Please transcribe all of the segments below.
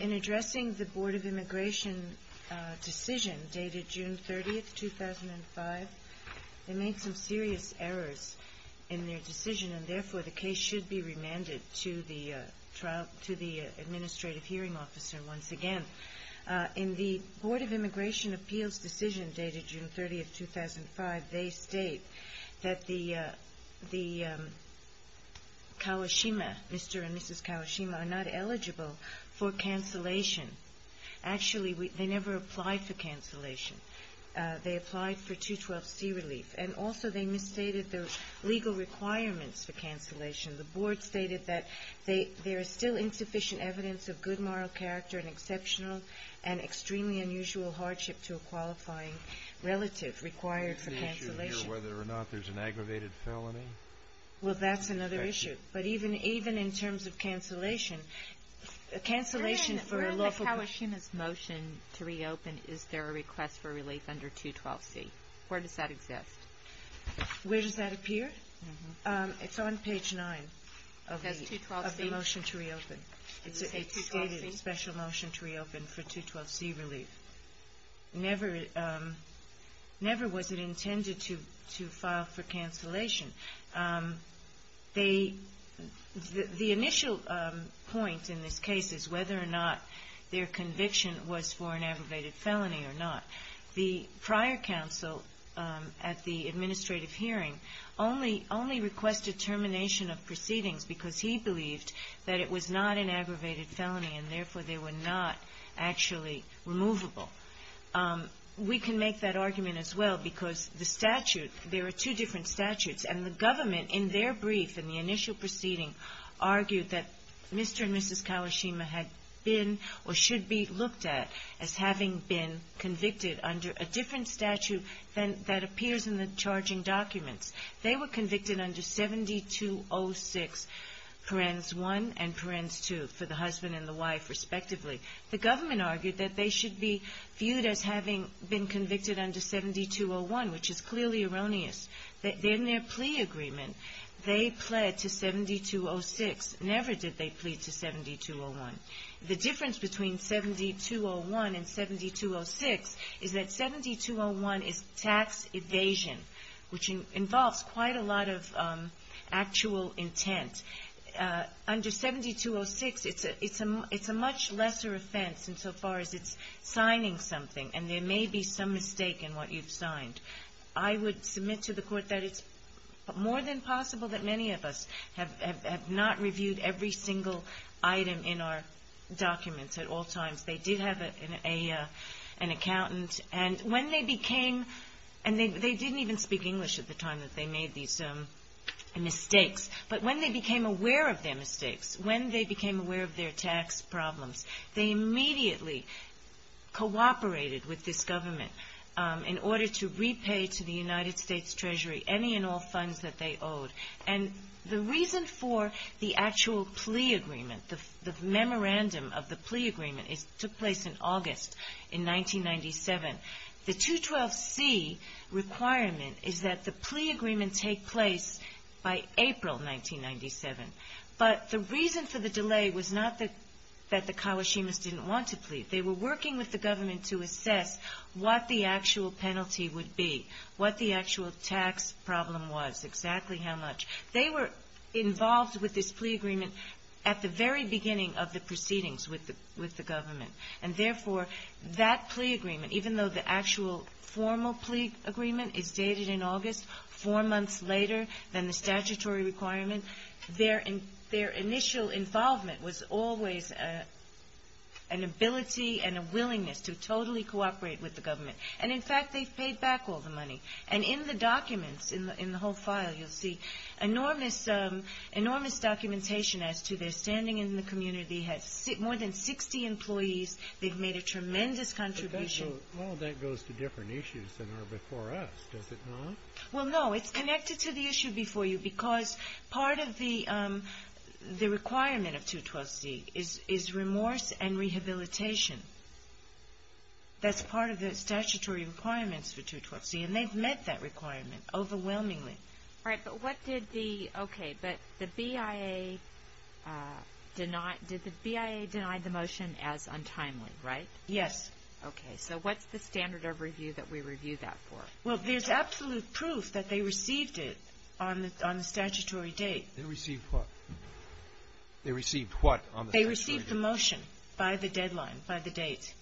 In addressing the Board of Immigration decision dated June 30, 2005, they made some serious errors in their decision and therefore the case should be remanded to the Administrative Hearing Officer once again. In the Board of Immigration Appeals decision dated June 30, 2005, they state that the Kawashima, Mr. and Mrs. Kawashima, are not eligible for cancellation. Actually, they never applied for cancellation. They applied for 212C relief and also they misstated the legal requirements for cancellation. The Board stated that there is still insufficient evidence of good moral character and exceptional and extremely unusual hardship to a qualifying relative required for cancellation. Is the issue here whether or not there's an aggravated felony? Well, that's another issue. But even in terms of cancellation, cancellation for a lawful person. Where in the Kawashima's motion to reopen is there a request for relief under 212C? Where does that exist? It's a stated special motion to reopen for 212C relief. Never was it intended to file for cancellation. The initial point in this case is whether or not their conviction was for an aggravated felony or not. The prior counsel at the Administrative Hearing only requested determination of proceedings because he believed that it was not an aggravated felony and, therefore, they were not actually removable. We can make that argument as well because the statute, there are two different statutes, and the government in their brief in the initial proceeding argued that Mr. and Mrs. Kawashima had been or should be looked at as having been convicted under a different statute than that appears in the charging documents. They were convicted under 7206 parens 1 and parens 2 for the husband and the wife, respectively. The government argued that they should be viewed as having been convicted under 7201, which is clearly erroneous. In their plea agreement, they pled to 7206. Never did they plead to 7201. The difference between 7201 and 7206 is that 7201 is tax evasion, which involves quite a lot of actual intent. Under 7206, it's a much lesser offense insofar as it's signing something and there may be some mistake in what you've signed. I would submit to the Court that it's more than possible that many of us have not reviewed every single item in our documents at all times. They did have an accountant, and when they became, and they didn't even speak English at the time that they made these mistakes, but when they became aware of their mistakes, when they became aware of their tax problems, they immediately cooperated with this government in order to repay to the United States Treasury any and all funds that they owed. And the actual plea agreement, the memorandum of the plea agreement, took place in August in 1997. The 212C requirement is that the plea agreement take place by April 1997. But the reason for the delay was not that the Kawashimas didn't want to plead. They were working with the government to assess what the actual penalty would be, what the actual tax problem was, exactly how much. They were involved with this plea agreement at the very beginning of the proceedings with the government. And therefore, that plea agreement, even though the actual formal plea agreement is dated in August, four months later than the statutory requirement, their initial involvement was always an ability and a willingness to totally cooperate with the government. And in fact, they've paid back all the money. And in the documents, in the whole file, you'll see enormous documentation as to their standing in the community. They have more than 60 employees. They've made a tremendous contribution. Well, that goes to different issues than are before us, does it not? Well, no. It's connected to the issue before you because part of the requirement of 212C is remorse and rehabilitation. That's part of the statutory requirements for 212C. And they've met that requirement overwhelmingly. All right. But what did the – okay. But the BIA did not – did the BIA deny the motion as untimely, right? Yes. Okay. So what's the standard of review that we review that for? Well, there's absolute proof that they received it on the statutory date. They received what? They received what on the statutory date? They received the motion by the deadline, by the date.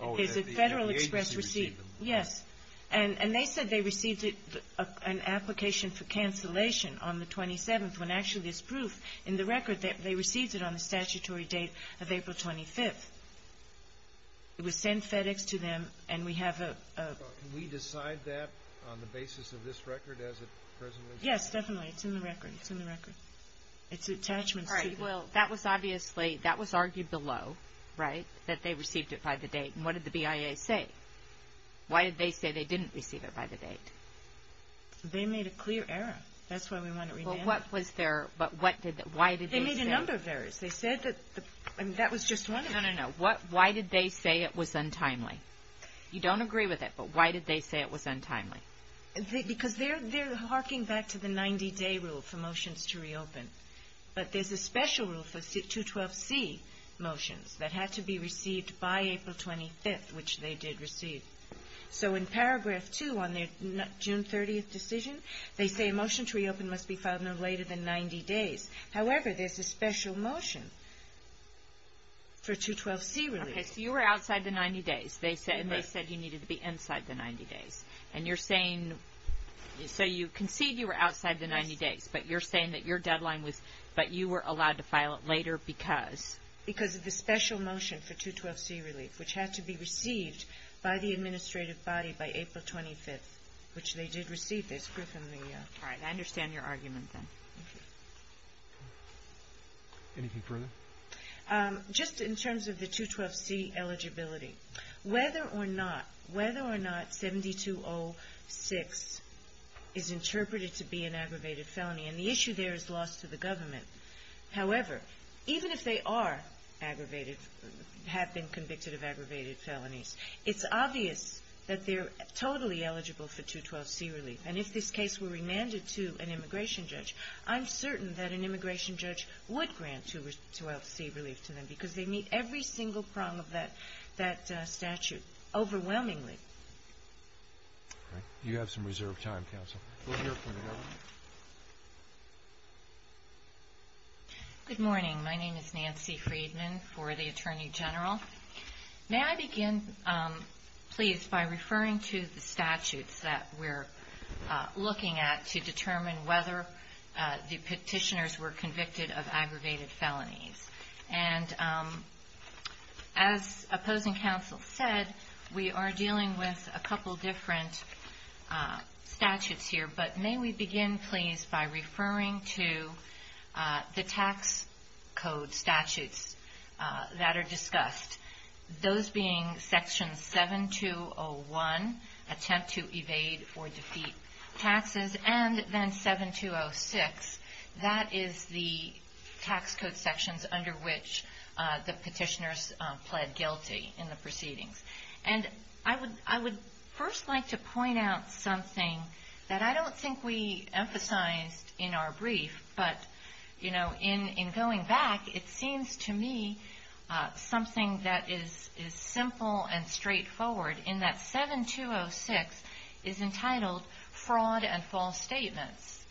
Oh, that the agency received it. Yes. And they said they received it – an application for cancellation on the 27th when actually there's proof in the record that they received it on the statutory date of April 25th. It was sent FedEx to them and we have a – Can we decide that on the basis of this record as it presently is? Yes, definitely. It's in the record. It's in the record. It's attachments to the – All right. Well, that was obviously – that was argued below, right, that they received it by the date. And what did the BIA say? Why did they say they didn't receive it by the date? They made a clear error. That's why we want to – Well, what was their – but what did – why did they say – They made a number of errors. They said that – I mean, that was just one of them. No, no, no. What – why did they say it was untimely? You don't agree with it, but why did they say it was untimely? Because they're – they're harking back to the 90-day rule for motions to reopen. But there's a special rule for 212C motions that had to be received by April 25th, which they did receive. So in paragraph 2 on their June 30th decision, they say a motion to reopen must be filed no later than 90 days. However, there's a special motion for 212C release. Okay. So you were outside the 90 days. And they said you needed to be inside the 90 days. And you're saying – so you concede you were outside the 90 days, but you're saying that your deadline was – but you were allowed to file it later because? Because of the special motion for 212C relief, which had to be received by the administrative body by April 25th, which they did receive. They screwed from the – All right. I understand your argument, then. Thank you. Anything further? Just in terms of the 212C eligibility, whether or not – is interpreted to be an aggravated felony. And the issue there is lost to the government. However, even if they are aggravated – have been convicted of aggravated felonies, it's obvious that they're totally eligible for 212C relief. And if this case were remanded to an immigration judge, I'm certain that an immigration judge would grant 212C relief to them because they meet every single prong of that statute overwhelmingly. All right. You have some reserved time, counsel. We'll hear from you. Good morning. My name is Nancy Friedman for the Attorney General. May I begin, please, by referring to the statutes that we're looking at to determine whether the petitioners were convicted of aggravated felonies? And as opposing counsel said, we are dealing with a couple different statutes here. But may we begin, please, by referring to the tax code statutes that are discussed, those being Section 7201, Attempt to Evade or Defeat Taxes, and then 7206. That is the tax code sections under which the petitioners pled guilty in the proceedings. And I would first like to point out something that I don't think we emphasized in our brief, but, you know, in going back, it seems to me something that is simple and straightforward in that 7206 is entitled Fraud and False Statements.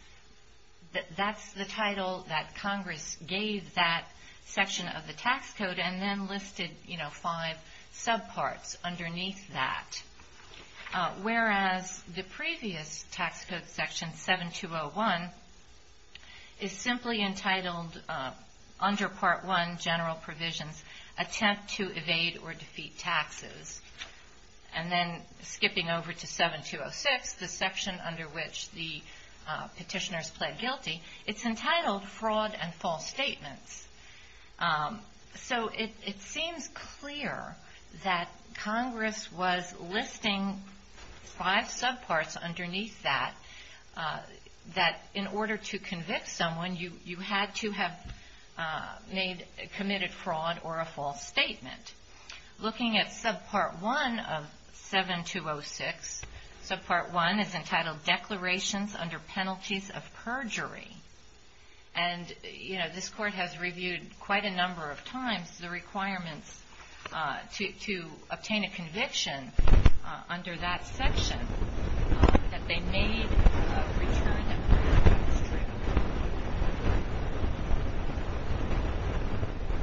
That's the title that Congress gave that section of the tax code and then listed, you know, five subparts underneath that. Whereas the previous tax code section, 7201, is simply entitled, under Part 1, General Provisions, Attempt to Evade or Defeat Taxes. And then skipping over to 7206, the section under which the petitioners pled guilty, it's entitled Fraud and False Statements. So it seems clear that Congress was listing five subparts underneath that, that in order to convict someone, you had to have committed fraud or a false statement. Looking at subpart 1 of 7206, subpart 1 is entitled Declarations Under Penalties of Perjury. And, you know, this Court has reviewed quite a number of times the requirements to obtain a conviction under that section that they made a return.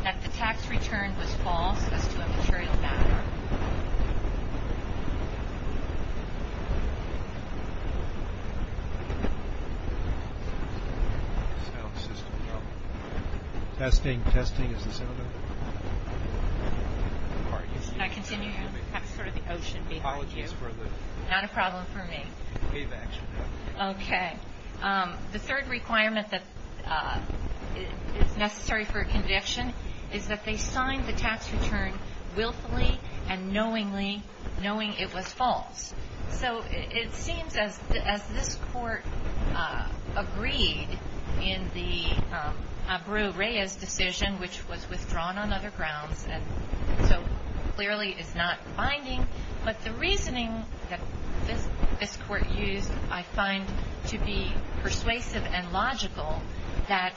That the tax return was false as to a material matter. Testing, testing, is this in order? Can I continue? I'm sort of the ocean behind you. Apologies for the wave action. Not a problem for me. Okay. The third requirement that is necessary for a conviction is that they sign the tax return willfully and knowingly, knowing it was false. So it seems as this Court agreed in the Abreu-Reyes decision, which was withdrawn on other grounds and so clearly is not binding, but the reasoning that this Court used I find to be persuasive and logical that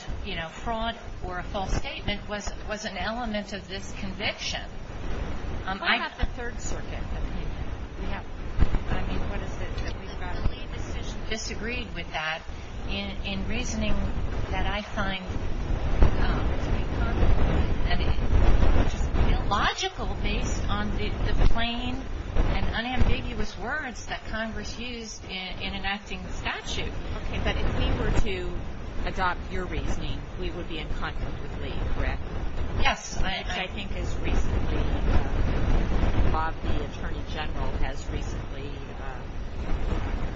fraud or a false statement was an element of this conviction. Why not the Third Circuit? I mean, what is it, that we've got a lien decision? Disagreed with that in reasoning that I find logical based on the plain and unambiguous words that Congress used in enacting the statute. Okay, but if we were to adopt your reasoning, we would be in conflict with lien, correct? Yes, I think as recently Bob, the Attorney General, has recently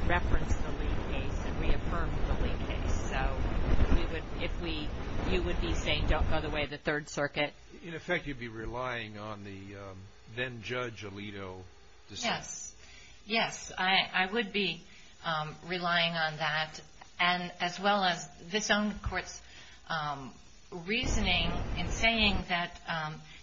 referenced the lien case and reaffirmed the lien case. So you would be saying don't go the way of the Third Circuit? In effect, you'd be relying on the then-Judge Alito decision. Yes. Yes, I would be relying on that, as well as this own Court's reasoning in saying that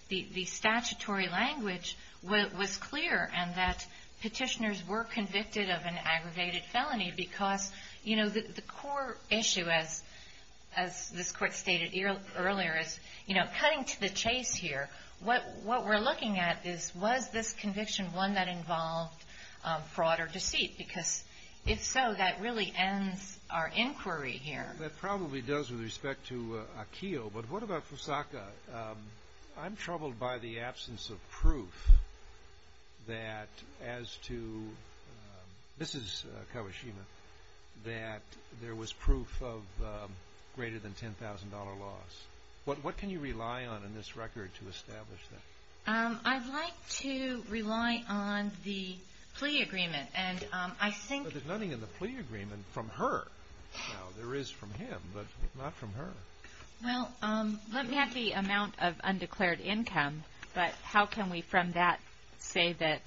the statutory language was clear and that petitioners were convicted of an aggravated felony because the core issue, as this Court stated earlier, is cutting to the chase here. What we're looking at is was this conviction one that involved fraud or deceit? Because if so, that really ends our inquiry here. That probably does with respect to Akio, but what about Fusaka? I'm troubled by the absence of proof that as to Mrs. Kawashima, that there was proof of greater than $10,000 loss. What can you rely on in this record to establish that? I'd like to rely on the plea agreement. But there's nothing in the plea agreement from her. Now, there is from him, but not from her. Well, let me have the amount of undeclared income, but how can we from that say that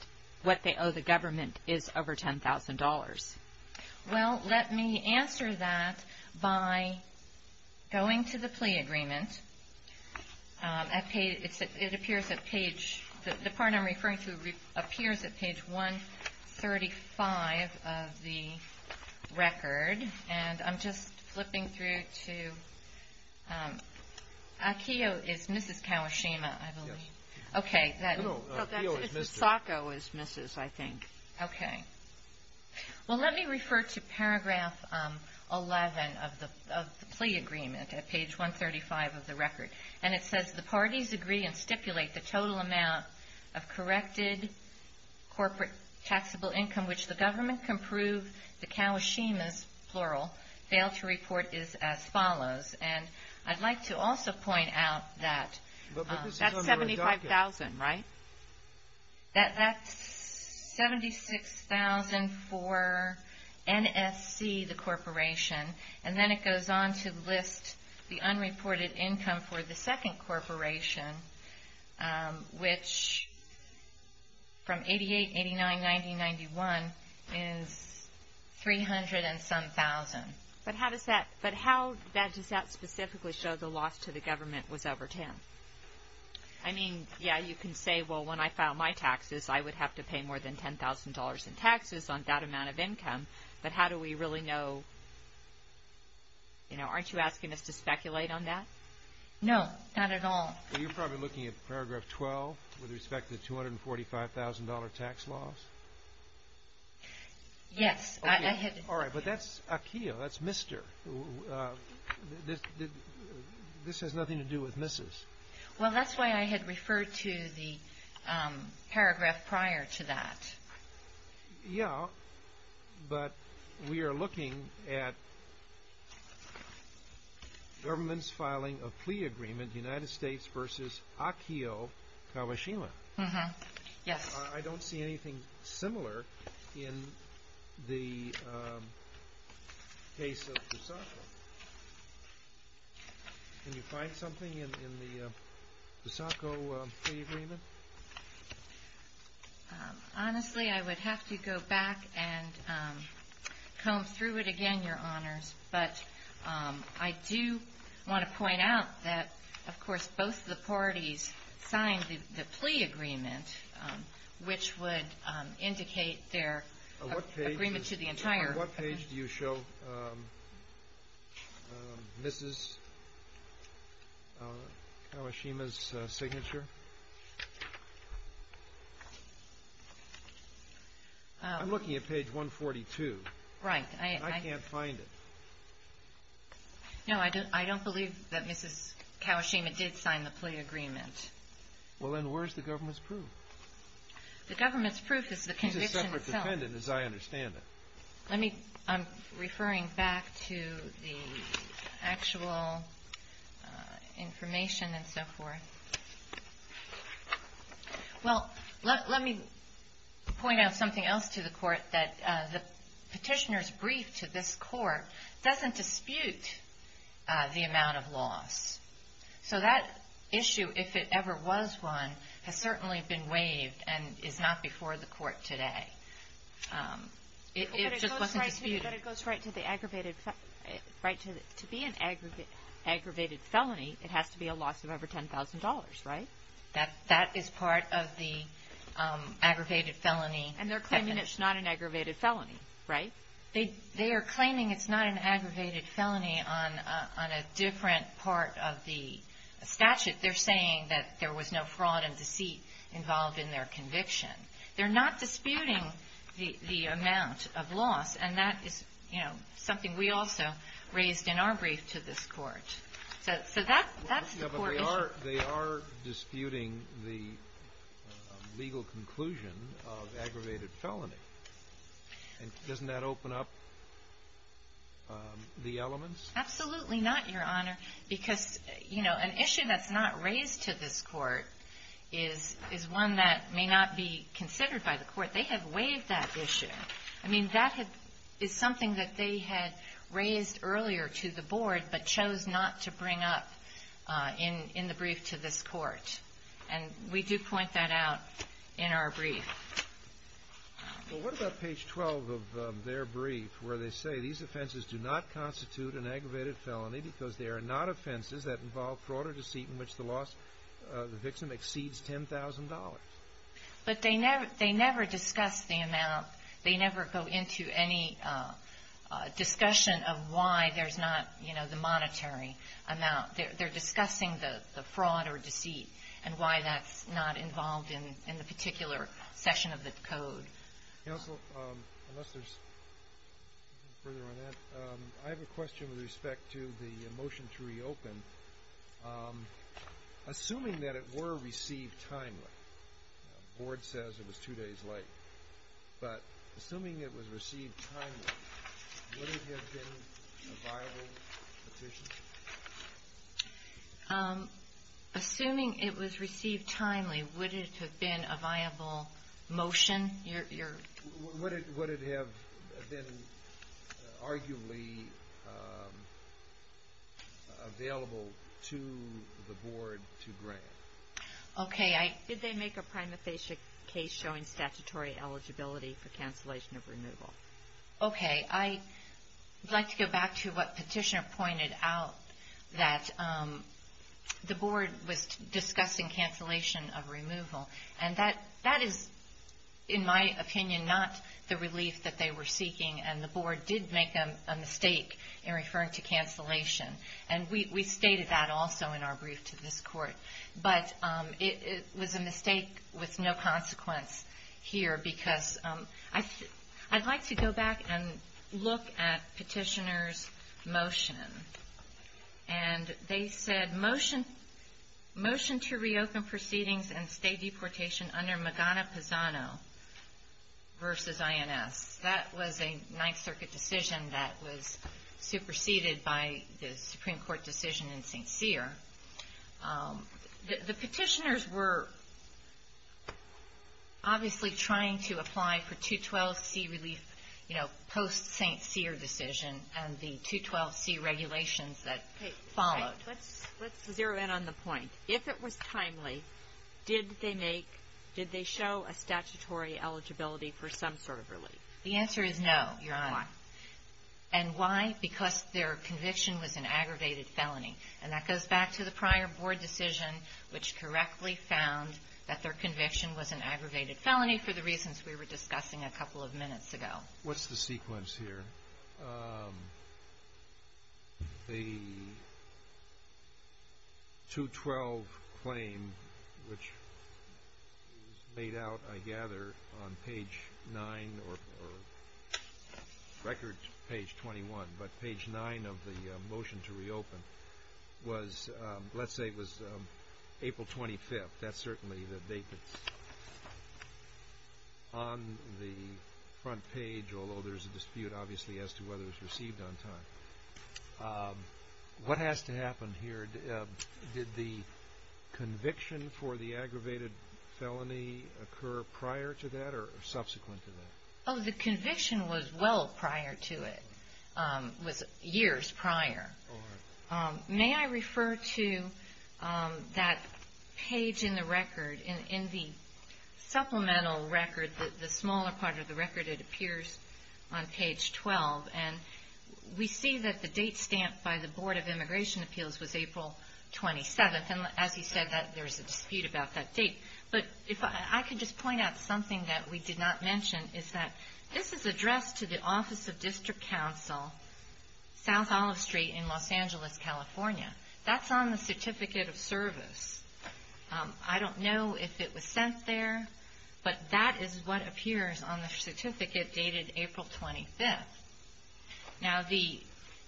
what they owe the government is over $10,000? Well, let me answer that by going to the plea agreement. It appears at page – the part I'm referring to appears at page 135 of the record, and I'm just flipping through to – Akio is Mrs. Kawashima, I believe. Yes. Okay. No, Akio is Mrs. Fusaka was Mrs., I think. Okay. Well, let me refer to paragraph 11 of the plea agreement at page 135 of the record, and it says, The parties agree and stipulate the total amount of corrected corporate taxable income which the government can prove the Kawashima's, plural, fail to report is as follows. And I'd like to also point out that that's $75,000, right? That's $76,000 for NSC, the corporation, and then it goes on to list the unreported income for the second corporation, which from $88,000, $89,000, $90,000, $91,000 is $300,000 and some thousand. But how does that specifically show the loss to the government was over $10,000? I mean, yeah, you can say, well, when I file my taxes, I would have to pay more than $10,000 in taxes on that amount of income, but how do we really know? You know, aren't you asking us to speculate on that? No, not at all. Well, you're probably looking at paragraph 12 with respect to the $245,000 tax loss. Yes. All right, but that's Akio, that's Mr. This has nothing to do with Mrs. Well, that's why I had referred to the paragraph prior to that. Yeah, but we are looking at government's filing of plea agreement, United States versus Akio Kawashima. Yes. I don't see anything similar in the case of. Can you find something in the agreement? Honestly, I would have to go back and comb through it again, Your Honors. I do want to point out that, of course, both the parties signed the plea agreement, which would indicate their agreement to the entire. On what page do you show Mrs. Kawashima's signature? I'm looking at page 142. Right. I can't find it. No, I don't believe that Mrs. Kawashima did sign the plea agreement. Well, then where's the government's proof? The government's proof is the condition itself. She's a separate defendant, as I understand it. Let me. I'm referring back to the actual information and so forth. Well, let me point out something else to the Court, that the petitioner's brief to this Court doesn't dispute the amount of loss. So that issue, if it ever was one, has certainly been waived and is not before the Court today. It just wasn't disputed. To be an aggravated felony, it has to be a loss of over $10,000, right? That is part of the aggravated felony. And they're claiming it's not an aggravated felony, right? They are claiming it's not an aggravated felony on a different part of the statute. They're saying that there was no fraud and deceit involved in their conviction. They're not disputing the amount of loss, and that is, you know, something we also raised in our brief to this Court. So that's the Court issue. Yeah, but they are disputing the legal conclusion of aggravated felony. And doesn't that open up the elements? Absolutely not, Your Honor. Because, you know, an issue that's not raised to this Court is one that may not be considered by the Court. They have waived that issue. I mean, that is something that they had raised earlier to the Board but chose not to bring up in the brief to this Court. And we do point that out in our brief. Well, what about page 12 of their brief where they say these offenses do not constitute an aggravated felony because they are not offenses that involve fraud or deceit in which the loss of the victim exceeds $10,000? But they never discuss the amount. They never go into any discussion of why there's not, you know, the monetary amount. They're discussing the fraud or deceit and why that's not involved in the particular session of the Code. Counsel, unless there's further on that, I have a question with respect to the motion to reopen. Assuming that it were received timely, the Board says it was two days late, but assuming it was received timely, would it have been a viable petition? Assuming it was received timely, would it have been a viable motion? Would it have been arguably available to the Board to grant? Okay. Did they make a prima facie case showing statutory eligibility for cancellation of removal? Okay. I'd like to go back to what Petitioner pointed out, that the Board was discussing cancellation of removal. And that is, in my opinion, not the relief that they were seeking, and the Board did make a mistake in referring to cancellation. And we stated that also in our brief to this Court. But it was a mistake with no consequence here, because I'd like to go back and look at Petitioner's motion. And they said, Motion to Reopen Proceedings and State Deportation under Magana-Pisano versus INS. That was a Ninth Circuit decision that was superseded by the Supreme Court decision in St. Cyr. The Petitioners were obviously trying to apply for 212C relief, you know, post-St. Cyr decision, and the 212C regulations that followed. Let's zero in on the point. If it was timely, did they show a statutory eligibility for some sort of relief? The answer is no, Your Honor. Why? And why? Because their conviction was an aggravated felony. And that goes back to the prior Board decision, which correctly found that their conviction was an aggravated felony for the reasons we were discussing a couple of minutes ago. What's the sequence here? The 212 claim, which was made out, I gather, on page 9 or record page 21, but page 9 of the Motion to Reopen was, let's say it was April 25th. That's certainly the date that's on the front page, although there's a dispute, obviously, as to whether it was received on time. What has to happen here? Did the conviction for the aggravated felony occur prior to that or subsequent to that? Oh, the conviction was well prior to it. It was years prior. May I refer to that page in the record, in the supplemental record, the smaller part of the record? It appears on page 12. And we see that the date stamped by the Board of Immigration Appeals was April 27th. And as you said, there's a dispute about that date. But if I could just point out something that we did not mention, is that this is addressed to the Office of District Counsel, South Olive Street in Los Angeles, California. That's on the Certificate of Service. I don't know if it was sent there, but that is what appears on the certificate dated April 25th. Now,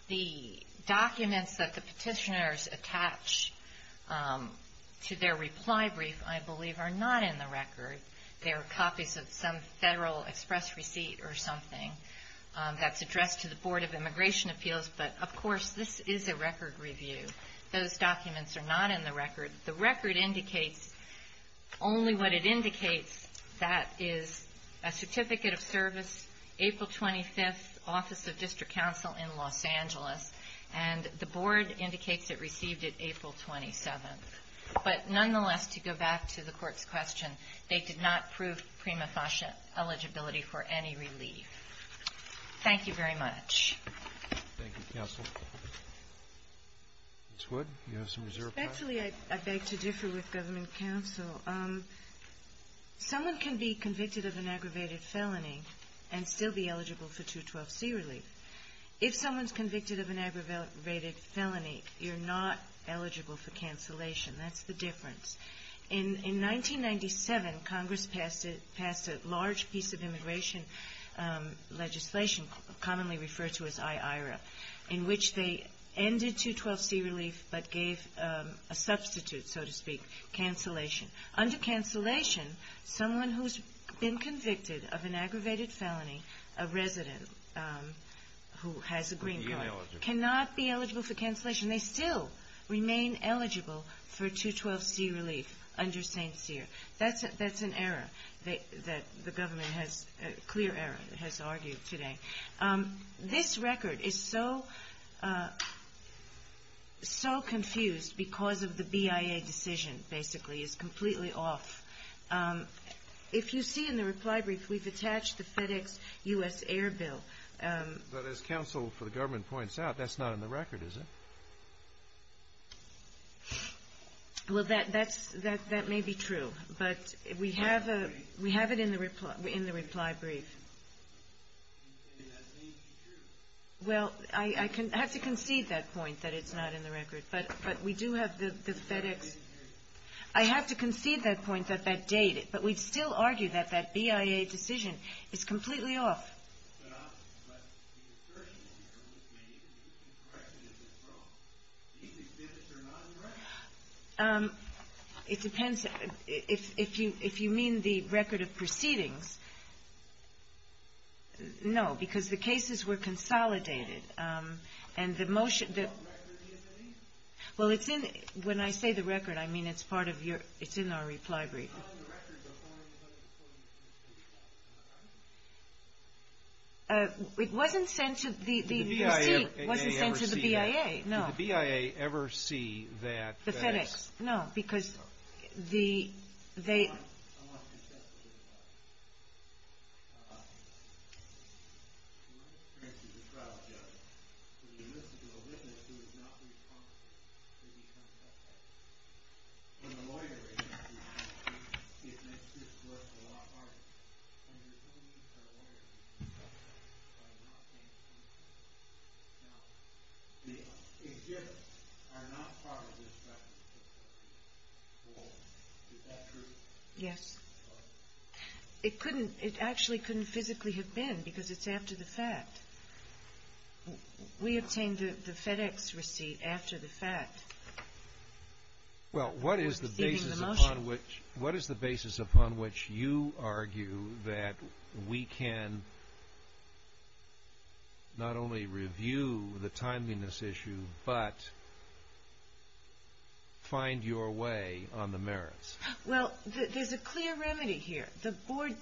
the documents that the petitioners attach to their reply brief, I believe, are not in the record. They are copies of some federal express receipt or something that's addressed to the Board of Immigration Appeals. But, of course, this is a record review. Those documents are not in the record. The record indicates only what it indicates. That is a Certificate of Service, April 25th, Office of District Counsel in Los Angeles. And the Board indicates it received it April 27th. But nonetheless, to go back to the Court's question, they did not prove prima facie eligibility for any relief. Thank you very much. Thank you, counsel. Ms. Wood, you have some reserve questions? Respectfully, I beg to differ with government counsel. Someone can be convicted of an aggravated felony and still be eligible for 212c relief. If someone's convicted of an aggravated felony, you're not eligible for cancellation. That's the difference. In 1997, Congress passed a large piece of immigration legislation, commonly referred to as I-IRA, in which they ended 212c relief but gave a substitute, so to speak, cancellation. Under cancellation, someone who's been convicted of an aggravated felony, a resident who has a green card, cannot be eligible for cancellation. They still remain eligible for 212c relief under St. Cyr. That's an error that the government has, a clear error, has argued today. This record is so confused because of the BIA decision, basically. It's completely off. If you see in the reply brief, we've attached the FedEx U.S. Air Bill. But as counsel for the government points out, that's not in the record, is it? Well, that may be true. But we have it in the reply brief. Well, I have to concede that point, that it's not in the record. But we do have the FedEx. I have to concede that point, that that date. But we still argue that that BIA decision is completely off. But the assertion that you're making is that you can correct it if it's wrong. These exhibits are not in the record. It depends. If you mean the record of proceedings, no, because the cases were consolidated. And the motion... Well, the record isn't in. Well, it's in. When I say the record, I mean it's part of your... it's in our reply brief. It's not in the record. It wasn't sent to the... The BIA may ever see that. No. Did the BIA ever see that... The FedEx. No, because the... I want to discuss a different topic. In my experience as a trial judge, when you listen to a witness who is not responsible, they become suspect. When a lawyer is not responsible, it makes this work a lot harder. And there's no reason for a lawyer to be suspect by not being reasonable. Now, the exhibits are not part of this record. Well, is that true? Yes. It actually couldn't physically have been, because it's after the fact. We obtained the FedEx receipt after the fact. Well, what is the basis upon which you argue that we can not only review the timeliness issue, but find your way on the merits? Well, there's a clear remedy here. The board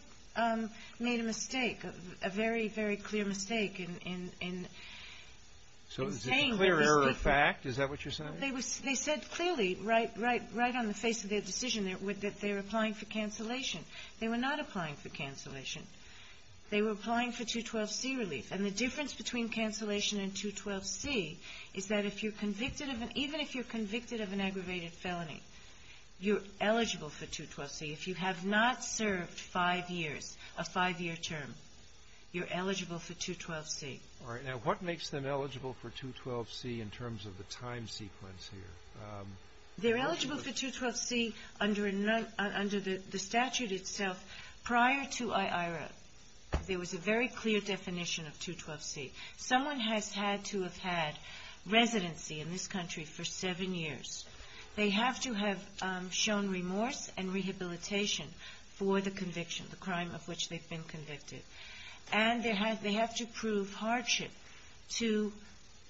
made a mistake, a very, very clear mistake in saying... So is it a clear error of fact? Is that what you're saying? They said clearly, right on the face of their decision, that they're applying for cancellation. They were not applying for cancellation. They were applying for 212C relief. And the difference between cancellation and 212C is that if you're convicted of an — even if you're convicted of an aggravated felony, you're eligible for 212C. If you have not served five years, a five-year term, you're eligible for 212C. All right. Now, what makes them eligible for 212C in terms of the time sequence here? They're eligible for 212C under the statute itself. Prior to IIRA, there was a very clear definition of 212C. Someone has had to have had residency in this country for seven years. They have to have shown remorse and rehabilitation for the conviction, the crime of which they've been convicted. And they have to prove hardship to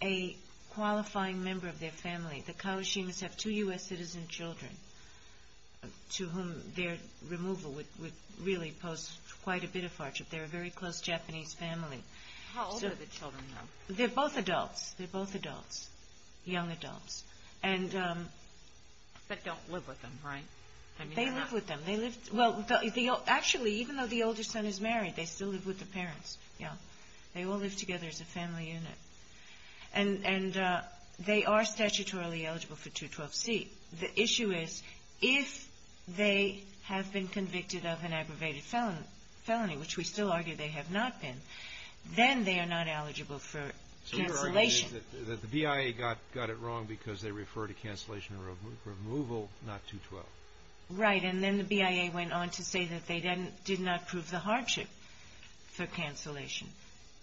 a qualifying member of their family. The Kawashimas have two U.S. citizen children to whom their removal would really pose quite a bit of hardship. They're a very close Japanese family. How old are the children, though? They're both adults. They're both adults, young adults. But don't live with them, right? They live with them. They live — well, actually, even though the older son is married, they still live with the parents. Yeah. They all live together as a family unit. And they are statutorily eligible for 212C. The issue is if they have been convicted of an aggravated felony, which we still argue they have not been, then they are not eligible for cancellation. So your argument is that the BIA got it wrong because they refer to cancellation or removal, not 212. Right. And then the BIA went on to say that they didn't — did not prove the hardship for cancellation.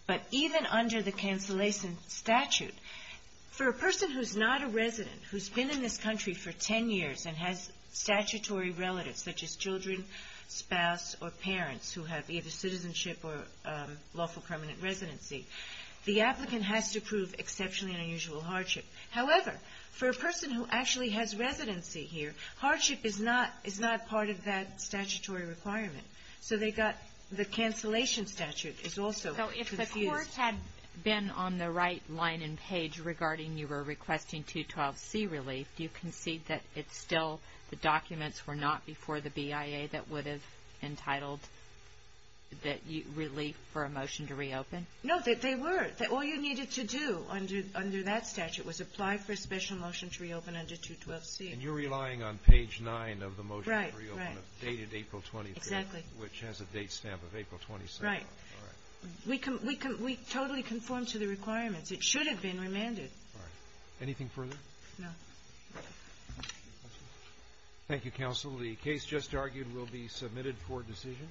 But even under the cancellation statute, for a person who's not a resident, who's been in this country for 10 years and has statutory relatives, such as children, spouse, or parents who have either citizenship or lawful permanent residency, the applicant has to prove exceptionally unusual hardship. However, for a person who actually has residency here, hardship is not part of that statutory requirement. So they got — the cancellation statute is also confused. So if the court had been on the right line and page regarding you were requesting 212C relief, do you concede that it's still — the documents were not before the BIA that would have entitled relief for a motion to reopen? No, they were. All you needed to do under that statute was apply for a special motion to reopen under 212C. And you're relying on page 9 of the motion to reopen. Right, right. Exactly. Which has a date stamp of April 27th. Right. All right. We totally conform to the requirements. It should have been remanded. All right. Anything further? No. Thank you, Counsel. The case just argued will be submitted for decision.